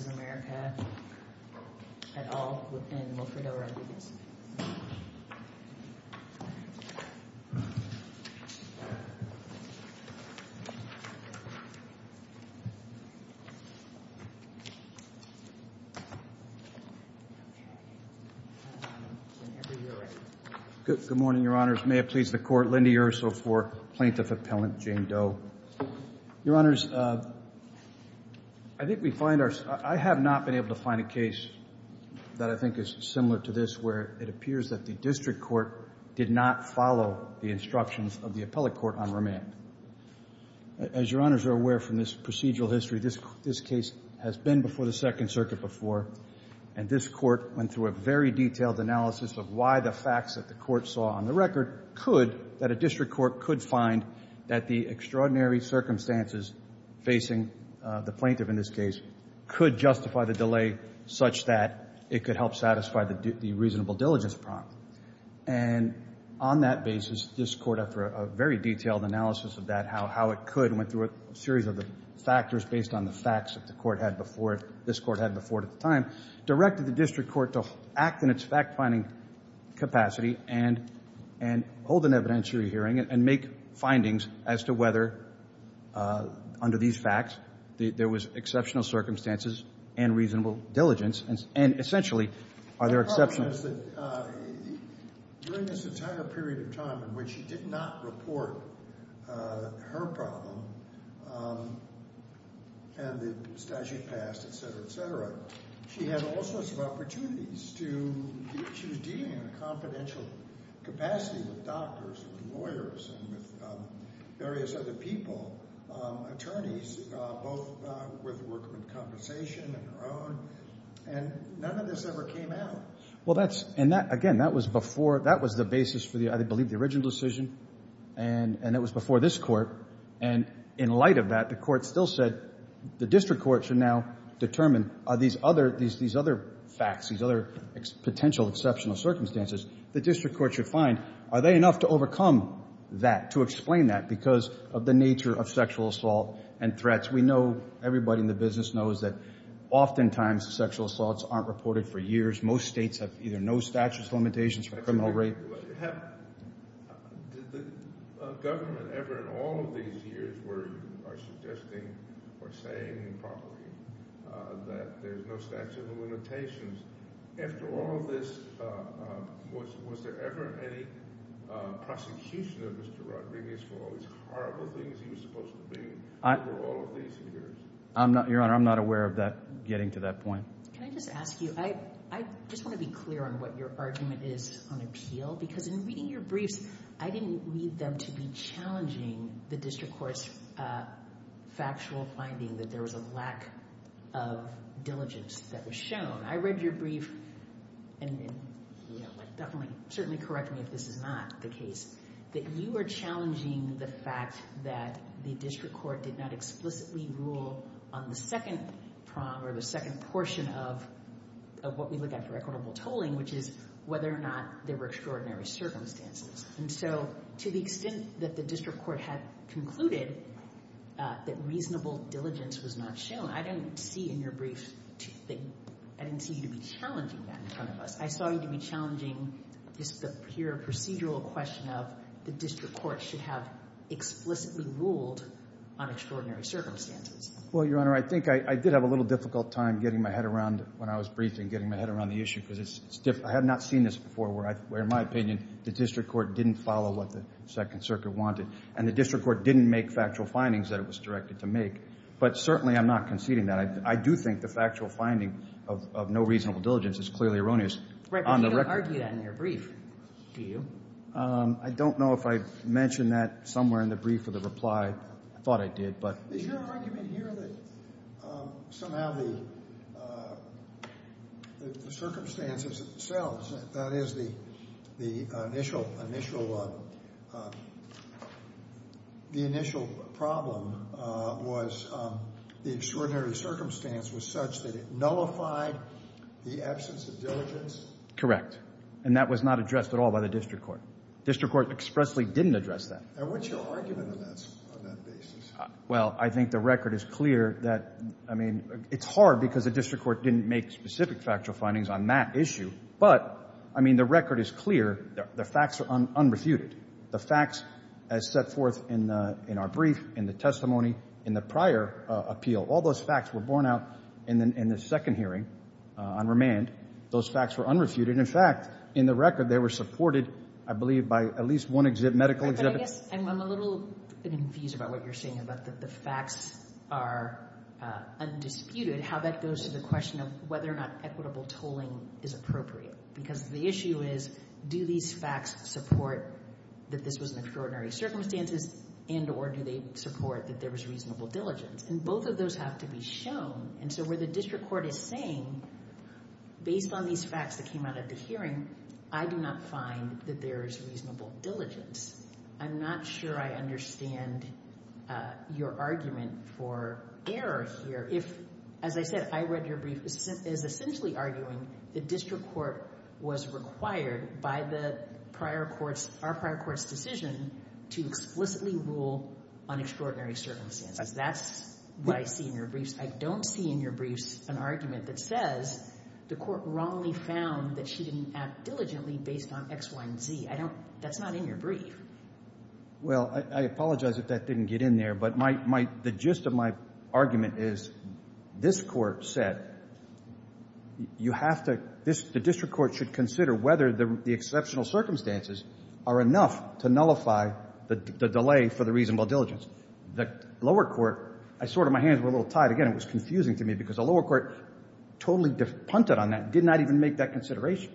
of America, et al., within Wilfredo Rodriguez. Good morning, Your Honors. May it please the Court, Lindy Urso for Plaintiff Appellant Jane Doe. Your Honors, I think we find our—I have not been able to find a case that I think is similar to this where it appears that the district court did not follow the instructions of the appellate court on remand. As Your Honors are aware from this procedural history, this case has been before the Second Circuit before, and this court went through a very detailed analysis of why the facts that the court saw on the record could, that a district court could find, that the extraordinary circumstances facing the plaintiff in this case could justify the delay such that it could help satisfy the reasonable diligence prompt. And on that basis, this court, after a very detailed analysis of that, how it could, went through a series of the factors based on the facts that the court had before it, this court to act in its fact-finding capacity and hold an evidentiary hearing and make findings as to whether, under these facts, there was exceptional circumstances and reasonable diligence, and essentially, are there exceptional— The problem is that during this entire period of time in which she did not report her problem and the statute passed, et cetera, et cetera, she had all sorts of opportunities to, she was dealing in a confidential capacity with doctors and lawyers and with various other people, attorneys, both with workmen compensation and her own, and none of this ever came out. Well, that's, and that, again, that was before, that was the basis for the, I believe, the In light of that, the court still said, the district court should now determine, are these other, these other facts, these other potential exceptional circumstances, the district court should find, are they enough to overcome that, to explain that, because of the nature of sexual assault and threats. We know, everybody in the business knows that oftentimes sexual assaults aren't reported for years. Most states have either no statute of limitations for criminal rape— Did the government ever in all of these years where you are suggesting or saying improperly that there's no statute of limitations, after all of this, was there ever any prosecution of Mr. Rodriguez for all these horrible things he was supposed to bring over all of these years? I'm not, Your Honor, I'm not aware of that, getting to that point. Can I just ask you, I just want to be clear on what your argument is on appeal, because in reading your briefs, I didn't read them to be challenging the district court's factual finding that there was a lack of diligence that was shown. I read your brief, and definitely, certainly correct me if this is not the case, that you are challenging the fact that the district court did not explicitly rule on the second prong or the second portion of what we look at for equitable tolling, which is whether or not there were extraordinary circumstances. And so to the extent that the district court had concluded that reasonable diligence was not shown, I didn't see in your brief, I didn't see you to be challenging that in front of us. I saw you to be challenging just the pure procedural question of the district court should have explicitly ruled on extraordinary circumstances. Well, Your Honor, I think I did have a little difficult time getting my head around when I was briefing, getting my head around the issue, because I had not seen this before where, in my opinion, the district court didn't follow what the Second Circuit wanted, and the district court didn't make factual findings that it was directed to make. But certainly, I'm not conceding that. I do think the factual finding of no reasonable diligence is clearly erroneous. Right, but you don't argue that in your brief, do you? I don't know if I mentioned that somewhere in the brief or the reply. I thought I did, but. Is your argument here that somehow the circumstances themselves, that is, the initial problem was the extraordinary circumstance was such that it nullified the absence of diligence? Correct. And that was not addressed at all by the district court. District court expressly didn't address that. And what's your argument on that basis? Well, I think the record is clear that, I mean, it's hard because the district court didn't make specific factual findings on that issue. But, I mean, the record is clear. The facts are unrefuted. The facts as set forth in our brief, in the testimony, in the prior appeal, all those facts were borne out in the second hearing on remand. Those facts were unrefuted. In fact, in the record, they were supported, I believe, by at least one medical exhibit. But I guess I'm a little confused about what you're saying about that the facts are undisputed, how that goes to the question of whether or not equitable tolling is appropriate. Because the issue is, do these facts support that this was an extraordinary circumstances, and or do they support that there was reasonable diligence? And both of those have to be shown. And so where the district court is saying, based on these facts that came out of the hearing, I do not find that there is reasonable diligence. I'm not sure I understand your argument for error here. If, as I said, I read your brief, is essentially arguing the district court was required by our prior court's decision to explicitly rule on extraordinary circumstances. That's what I see in your briefs. I don't see in your briefs an argument that says the court wrongly found that she didn't act diligently based on X, Y, and Z. I don't – that's not in your brief. Well, I apologize if that didn't get in there. But my – the gist of my argument is this court said you have to – the district court should consider whether the exceptional circumstances are enough to nullify the delay for the reasonable diligence. The lower court – I sort of – my hands were a little tied. Again, it was confusing to me because the lower court totally punted on that, and did not even make that consideration.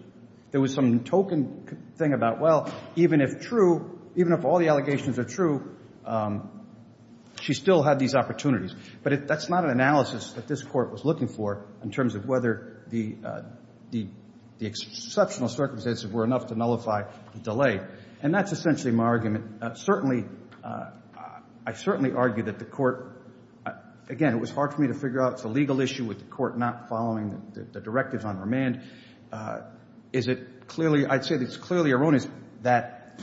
There was some token thing about, well, even if true – even if all the allegations are true, she still had these opportunities. But that's not an analysis that this court was looking for in terms of whether the exceptional circumstances were enough to nullify the delay. And that's essentially my argument. Certainly – I certainly argue that the court – again, it was hard for me to figure out – it's a legal issue with the court not following the directives on remand. Is it clearly – I'd say it's clearly erroneous that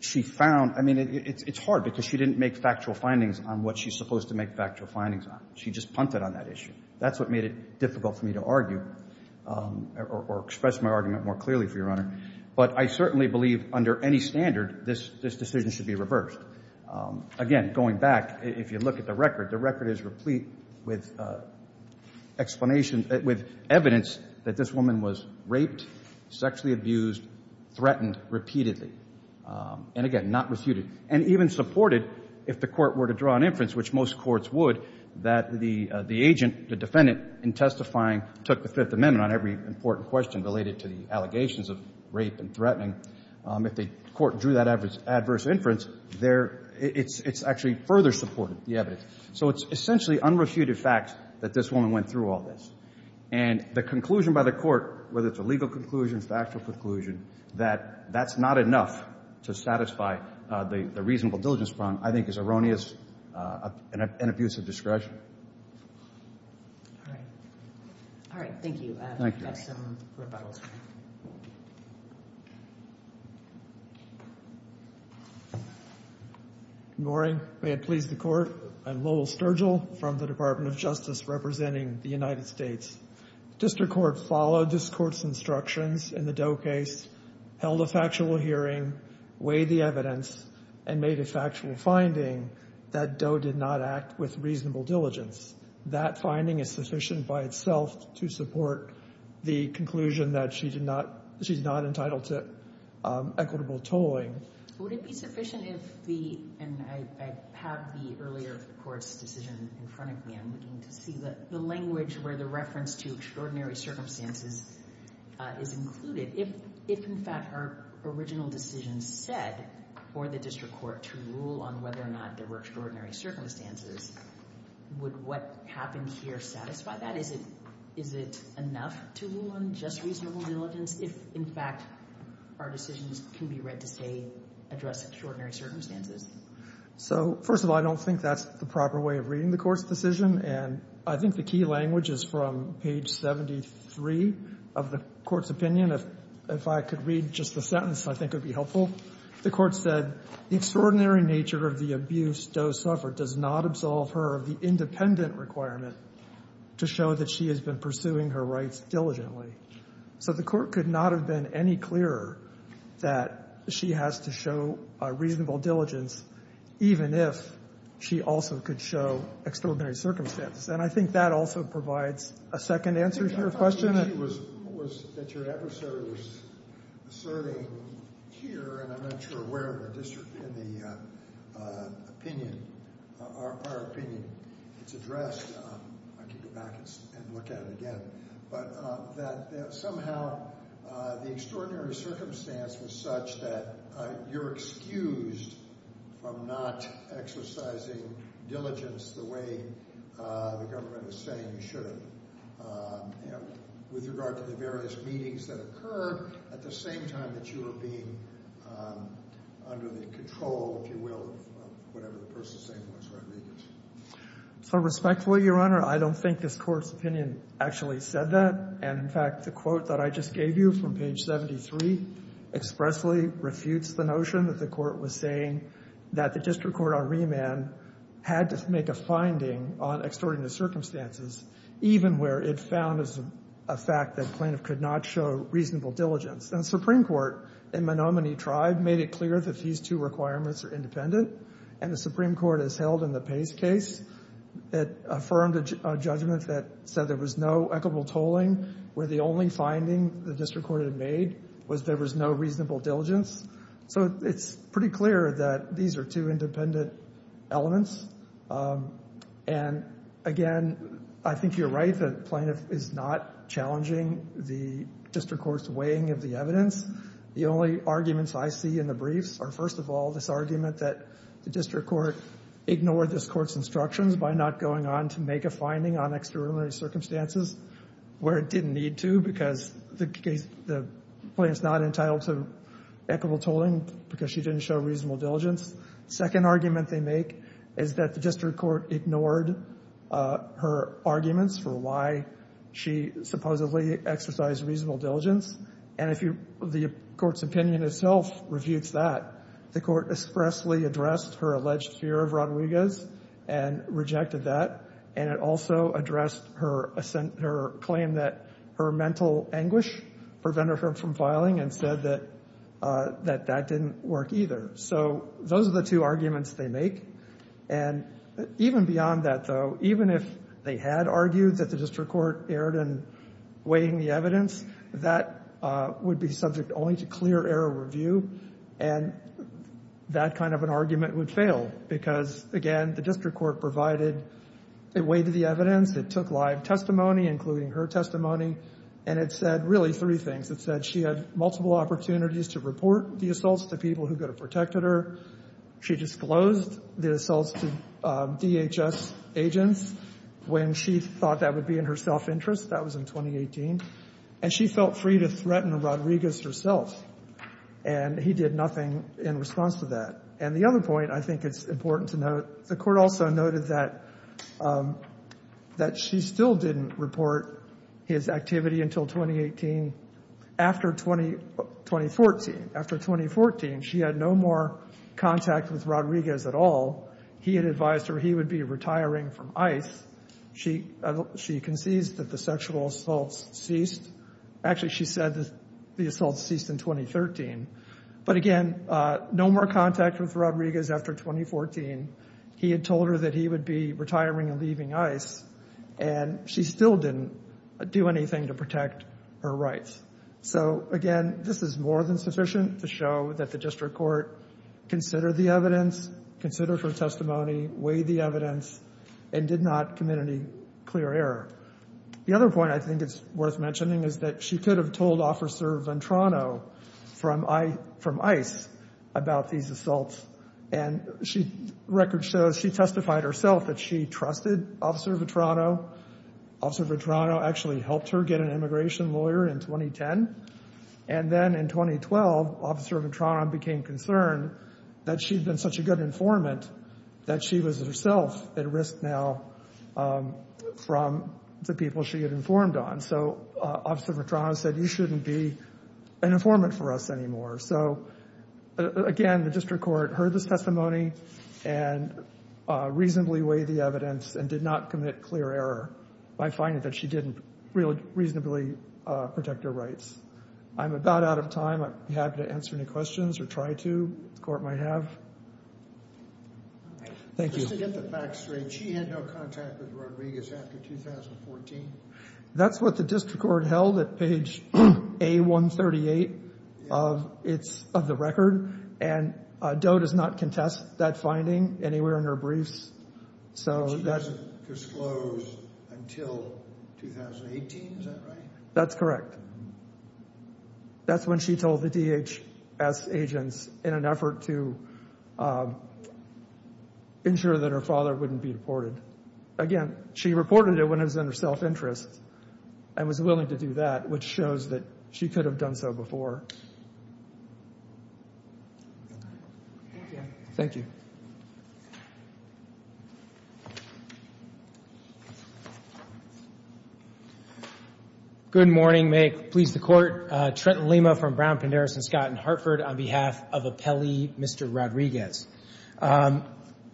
she found – I mean, it's hard because she didn't make factual findings on what she's supposed to make factual findings on. She just punted on that issue. That's what made it difficult for me to argue or express my argument more clearly, Your Honor. But I certainly believe under any standard this decision should be reversed. Again, going back, if you look at the record, the record is replete with explanation – with evidence that this woman was raped, sexually abused, threatened repeatedly. And again, not refuted. And even supported, if the court were to draw an inference, which most courts would, that the agent, the defendant, in testifying took the Fifth Amendment on every important question related to the allegations of rape and threatening. If the court drew that adverse inference, there – it's actually further supported, the evidence. So it's essentially unrefuted facts that this woman went through all this. And the conclusion by the court, whether it's a legal conclusion, factual conclusion, that that's not enough to satisfy the reasonable diligence problem, I think is erroneous and an abuse of discretion. All right. All right, thank you. Thank you. That's some rebuttals. Good morning. May it please the Court, I'm Lowell Sturgill from the Department of Justice representing the United States. District Court followed this Court's instructions in the Doe case, held a factual hearing, weighed the evidence, and made a factual finding that Doe did not act with reasonable diligence. That finding is sufficient by itself to support the conclusion that she did not – equitable tolling. Would it be sufficient if the – and I have the earlier Court's decision in front of me. I'm looking to see the language where the reference to extraordinary circumstances is included. If, in fact, her original decision said for the district court to rule on whether or not there were extraordinary circumstances, would what happened here satisfy that? Is it enough to rule on just reasonable diligence? If, in fact, our decisions can be read to say address extraordinary circumstances? So, first of all, I don't think that's the proper way of reading the Court's decision. And I think the key language is from page 73 of the Court's opinion. If I could read just the sentence, I think it would be helpful. The Court said, the extraordinary nature of the abuse Doe suffered does not absolve her of the independent requirement to show that she has been pursuing her rights diligently. So the Court could not have been any clearer that she has to show a reasonable diligence even if she also could show extraordinary circumstances. And I think that also provides a second answer to your question. Your episode was asserting here, and I'm not sure where in the district, in the opinion, our opinion, it's addressed. I could go back and look at it again. But that somehow the extraordinary circumstance was such that you're excused from not exercising diligence the way the government is saying you should. With regard to the various meetings that occurred, at the same time that you were being under the control, if you will, of whatever the person saying was, Rodriguez. So, respectfully, Your Honor, I don't think this Court's opinion actually said that. And, in fact, the quote that I just gave you from page 73 expressly refutes the notion that the Court was saying that the district court on remand had to make a finding on extraordinary circumstances even where it found as a fact that plaintiff could not show reasonable diligence. And the Supreme Court in Menominee Tribe made it clear that these two requirements are independent. And the Supreme Court has held in the Pace case that affirmed a judgment that said there was no equitable tolling where the only finding the district court had made was there was no reasonable diligence. So it's pretty clear that these are two independent elements. And, again, I think you're right that the plaintiff is not challenging the district court's weighing of the evidence. The only arguments I see in the briefs are, first of all, this argument that the district court ignored this Court's instructions by not going on to make a finding on extraordinary circumstances where it didn't need to because the case the plaintiff's not entitled to equitable tolling because she didn't show reasonable diligence. The second argument they make is that the district court ignored her arguments for why she supposedly exercised reasonable diligence. And if you the Court's opinion itself refutes that, the Court expressly addressed her alleged fear of Rodriguez and rejected that. And it also addressed her claim that her mental anguish prevented her from filing and said that that didn't work either. So those are the two arguments they make. And even beyond that, though, even if they had argued that the district court erred in weighing the evidence, that would be subject only to clear error review. And that kind of an argument would fail because, again, the district court provided it weighed the evidence. It took live testimony, including her testimony. And it said really three things. It said she had multiple opportunities to report the assaults to people who could have protected her. She disclosed the assaults to DHS agents when she thought that would be in her self-interest. That was in 2018. And she felt free to threaten Rodriguez herself. And he did nothing in response to that. And the other point I think it's important to note, the Court also noted that she still didn't report his activity until 2018. After 2014, after 2014, she had no more contact with Rodriguez at all. He had advised her he would be retiring from ICE. She conceded that the sexual assaults ceased. Actually, she said the assaults ceased in 2013. But, again, no more contact with Rodriguez after 2014. He had told her that he would be retiring and leaving ICE. And she still didn't do anything to protect her rights. So, again, this is more than sufficient to show that the district court considered the evidence, considered her testimony, weighed the evidence, and did not commit any clear error. The other point I think it's worth mentioning is that she could have told Officer Ventrano from ICE about these assaults. And record shows she testified herself that she trusted Officer Ventrano. Officer Ventrano actually helped her get an immigration lawyer in 2010. And then in 2012, Officer Ventrano became concerned that she'd been such a good informant that she was herself at risk now from the people she had informed on. So Officer Ventrano said, you shouldn't be an informant for us anymore. So, again, the district court heard the testimony and reasonably weighed the evidence and did not commit clear error by finding that she didn't reasonably protect her rights. I'm about out of time. I'd be happy to answer any questions or try to if the court might have. Thank you. Just to get the facts straight, she had no contact with Rodriguez after 2014? That's what the district court held at page A138 of the record. And Doe does not contest that finding anywhere in her briefs. So she doesn't disclose until 2018. Is that right? That's correct. That's when she told the DHS agents in an effort to ensure that her father wouldn't be deported. Again, she reported it when it was in her self-interest and was willing to do that, which shows that she could have done so before. Thank you. Good morning. May it please the Court. Trenton Lima from Brown, Penderas & Scott in Hartford on behalf of Appellee Mr. Rodriguez. Your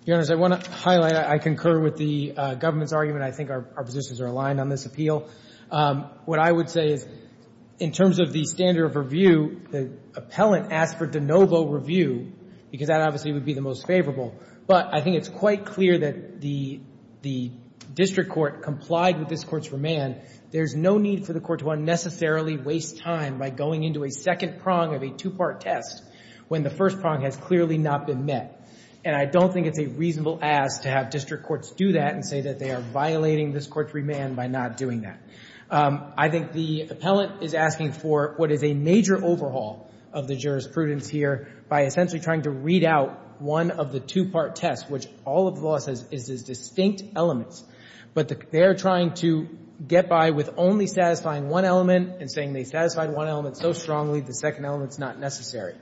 Honors, I want to highlight I concur with the government's argument. I think our positions are aligned on this appeal. What I would say is in terms of the standard of review, the appellant asked for de novo review because that obviously would be the most favorable. But I think it's quite clear that the district court complied with this court's remand. There's no need for the court to unnecessarily waste time by going into a second prong of a two-part test when the first prong has clearly not been met. And I don't think it's a reasonable ask to have district courts do that and say that they are violating this court's remand by not doing that. I think the appellant is asking for what is a major overhaul of the jurisprudence here by essentially trying to read out one of the two-part tests, which all of the law says is distinct elements. But they are trying to get by with only satisfying one element and saying they satisfied one element so strongly the second element is not necessary.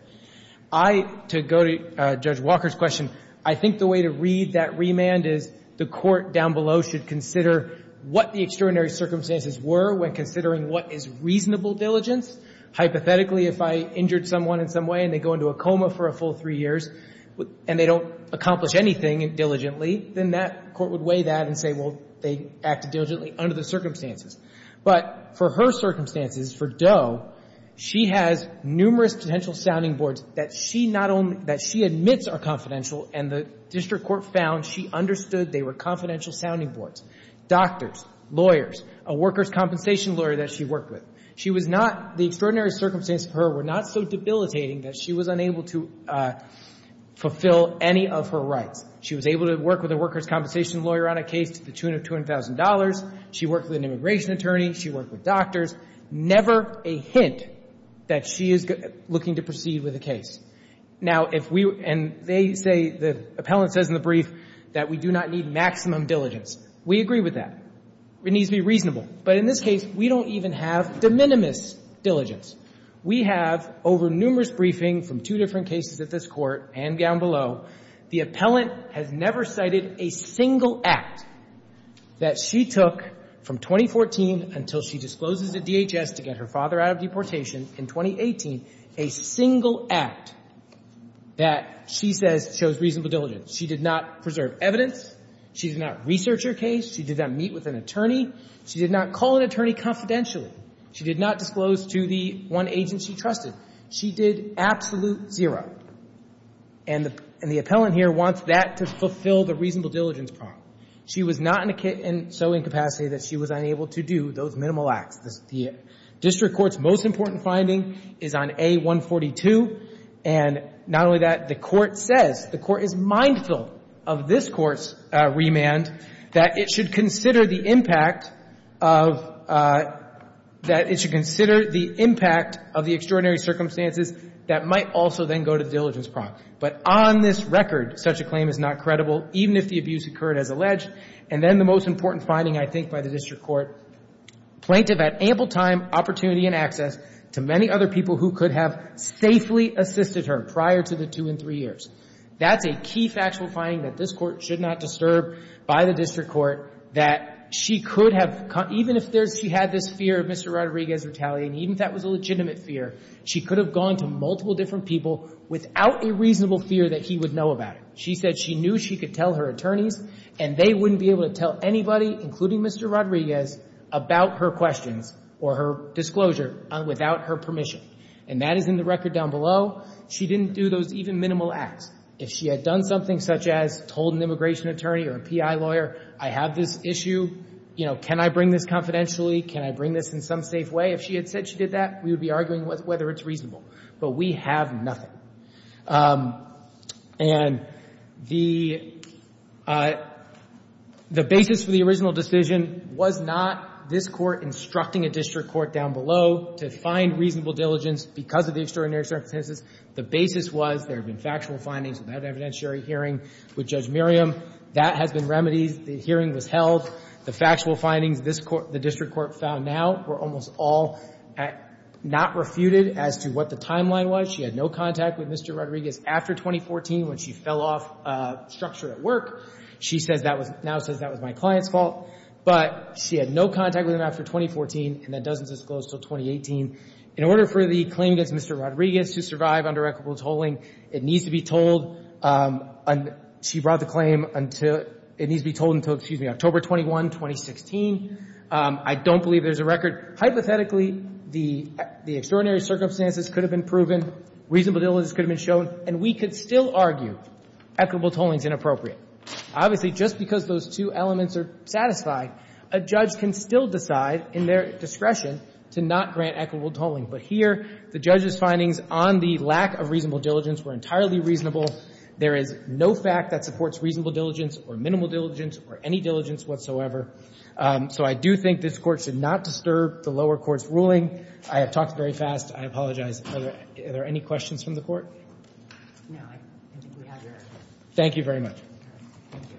I, to go to Judge Walker's question, I think the way to read that remand is the court down below should consider what the extraordinary circumstances were when considering what is reasonable diligence. Hypothetically, if I injured someone in some way and they go into a coma for a full three years and they don't accomplish anything diligently, then that court would weigh that and say, well, they acted diligently under the circumstances. But for her circumstances, for Doe, she has numerous potential sounding boards that she not only — that she admits are confidential and the district court found she understood they were confidential sounding boards. Doctors, lawyers, a workers' compensation lawyer that she worked with, she was not — the extraordinary circumstances for her were not so debilitating that she was unable to fulfill any of her rights. She was able to work with a workers' compensation lawyer on a case to the tune of $200,000. She worked with an immigration attorney. She worked with doctors. Never a hint that she is looking to proceed with a case. Now, if we — and they say, the appellant says in the brief, that we do not need maximum diligence, we agree with that. It needs to be reasonable. But in this case, we don't even have de minimis diligence. We have, over numerous briefings from two different cases at this Court and down below, the appellant has never cited a single act that she took from 2014 until she discloses a DHS to get her father out of deportation in 2018, a single act that she says shows reasonable diligence. She did not preserve evidence. She did not research her case. She did not meet with an attorney. She did not call an attorney confidentially. She did not disclose to the one agent she trusted. She did absolute zero. And the appellant here wants that to fulfill the reasonable diligence problem. She was not in so incapacity that she was unable to do those minimal acts. The district court's most important finding is on A142. And not only that, the Court says, the Court is mindful of this Court's remand, that it should consider the impact of the extraordinary circumstances that might also then go to the diligence problem. But on this record, such a claim is not credible, even if the abuse occurred as alleged. And then the most important finding, I think, by the district court, plaintiff had ample time, opportunity, and access to many other people who could have safely assisted her prior to the two and three years. That's a key factual finding that this Court should not disturb by the district court, that she could have, even if she had this fear of Mr. Rodriguez retaliating, even if that was a legitimate fear, she could have gone to multiple different people without a reasonable fear that he would know about it. She said she knew she could tell her attorneys, and they wouldn't be able to tell anybody, including Mr. Rodriguez, about her questions or her disclosure without her permission. And that is in the record down below. She didn't do those even minimal acts. If she had done something such as told an immigration attorney or a PI lawyer, I have this issue, you know, can I bring this confidentially? Can I bring this in some safe way? If she had said she did that, we would be arguing whether it's reasonable. But we have nothing. And the basis for the original decision was not this Court instructing a district court down below to find reasonable diligence because of the extraordinary circumstances. The basis was there had been factual findings of that evidentiary hearing with Judge Miriam. That has been remedied. The hearing was held. The factual findings this court, the district court found now were almost all not refuted as to what the timeline was. She had no contact with Mr. Rodriguez after 2014 when she fell off structure at work. She says that was, now says that was my client's fault. But she had no contact with him after 2014, and that doesn't disclose until 2018. In order for the claim against Mr. Rodriguez to survive under equitable tolling, it needs to be told, she brought the claim until, it needs to be told until, excuse me, October 21, 2016. I don't believe there's a record. Hypothetically, the extraordinary circumstances could have been proven, reasonable diligence could have been shown, and we could still argue equitable tolling is inappropriate. Obviously, just because those two elements are satisfied, a judge can still decide in their discretion to not grant equitable tolling. But here, the judge's findings on the lack of reasonable diligence were entirely reasonable. There is no fact that supports reasonable diligence or minimal diligence or any diligence whatsoever. So I do think this Court should not disturb the lower court's ruling. I have talked very fast. I apologize. Are there any questions from the Court? No. I think we have your answer. Thank you very much. Thank you.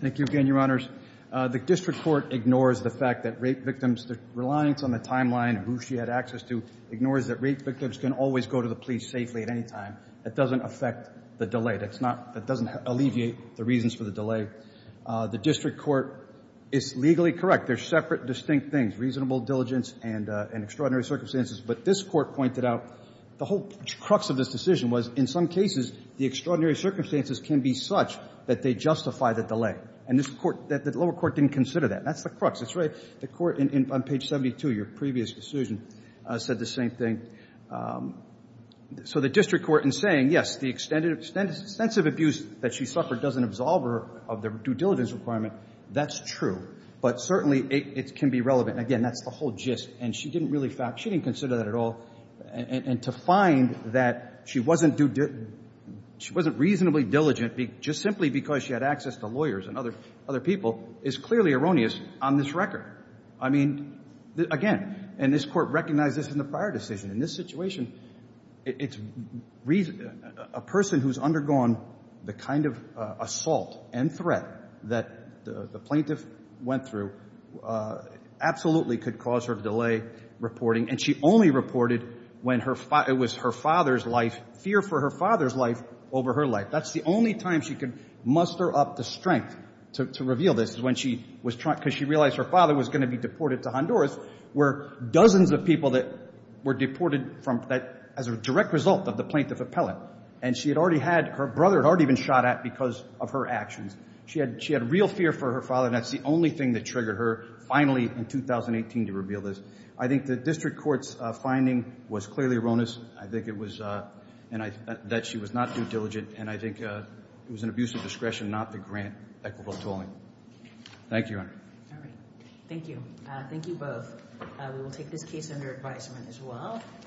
Thank you again, Your Honors. The district court ignores the fact that rape victims, the reliance on the timeline of who she had access to, ignores that rape victims can always go to the police safely at any time. That doesn't affect the delay. That doesn't alleviate the reasons for the delay. The district court is legally correct. There are separate, distinct things, reasonable diligence and extraordinary circumstances. But this Court pointed out the whole crux of this decision was, in some cases, the extraordinary circumstances can be such that they justify the delay. And this Court, the lower court didn't consider that. That's the crux. The Court on page 72, your previous decision, said the same thing. So the district court in saying, yes, the extensive abuse that she suffered doesn't absolve her of the due diligence requirement, that's true. But certainly it can be relevant. Again, that's the whole gist. And she didn't really consider that at all. And to find that she wasn't reasonably diligent just simply because she had access to lawyers and other people is clearly erroneous on this record. I mean, again, and this Court recognized this in the prior decision. In this situation, a person who's undergone the kind of assault and threat that the plaintiff went through absolutely could cause her to delay reporting. And she only reported when it was her father's life, fear for her father's life over her life. That's the only time she could muster up the strength to reveal this, because she realized her father was going to be deported to Honduras, where dozens of people were deported as a direct result of the plaintiff appellate. And she had already had her brother had already been shot at because of her actions. She had real fear for her father, and that's the only thing that triggered her finally in 2018 to reveal this. I think the district court's finding was clearly erroneous. I think it was that she was not due diligent, and I think it was an abuse of discretion, not the grant equitable tolling. Thank you, Your Honor. All right. Thank you. Thank you both. We will take this case under advisement as well.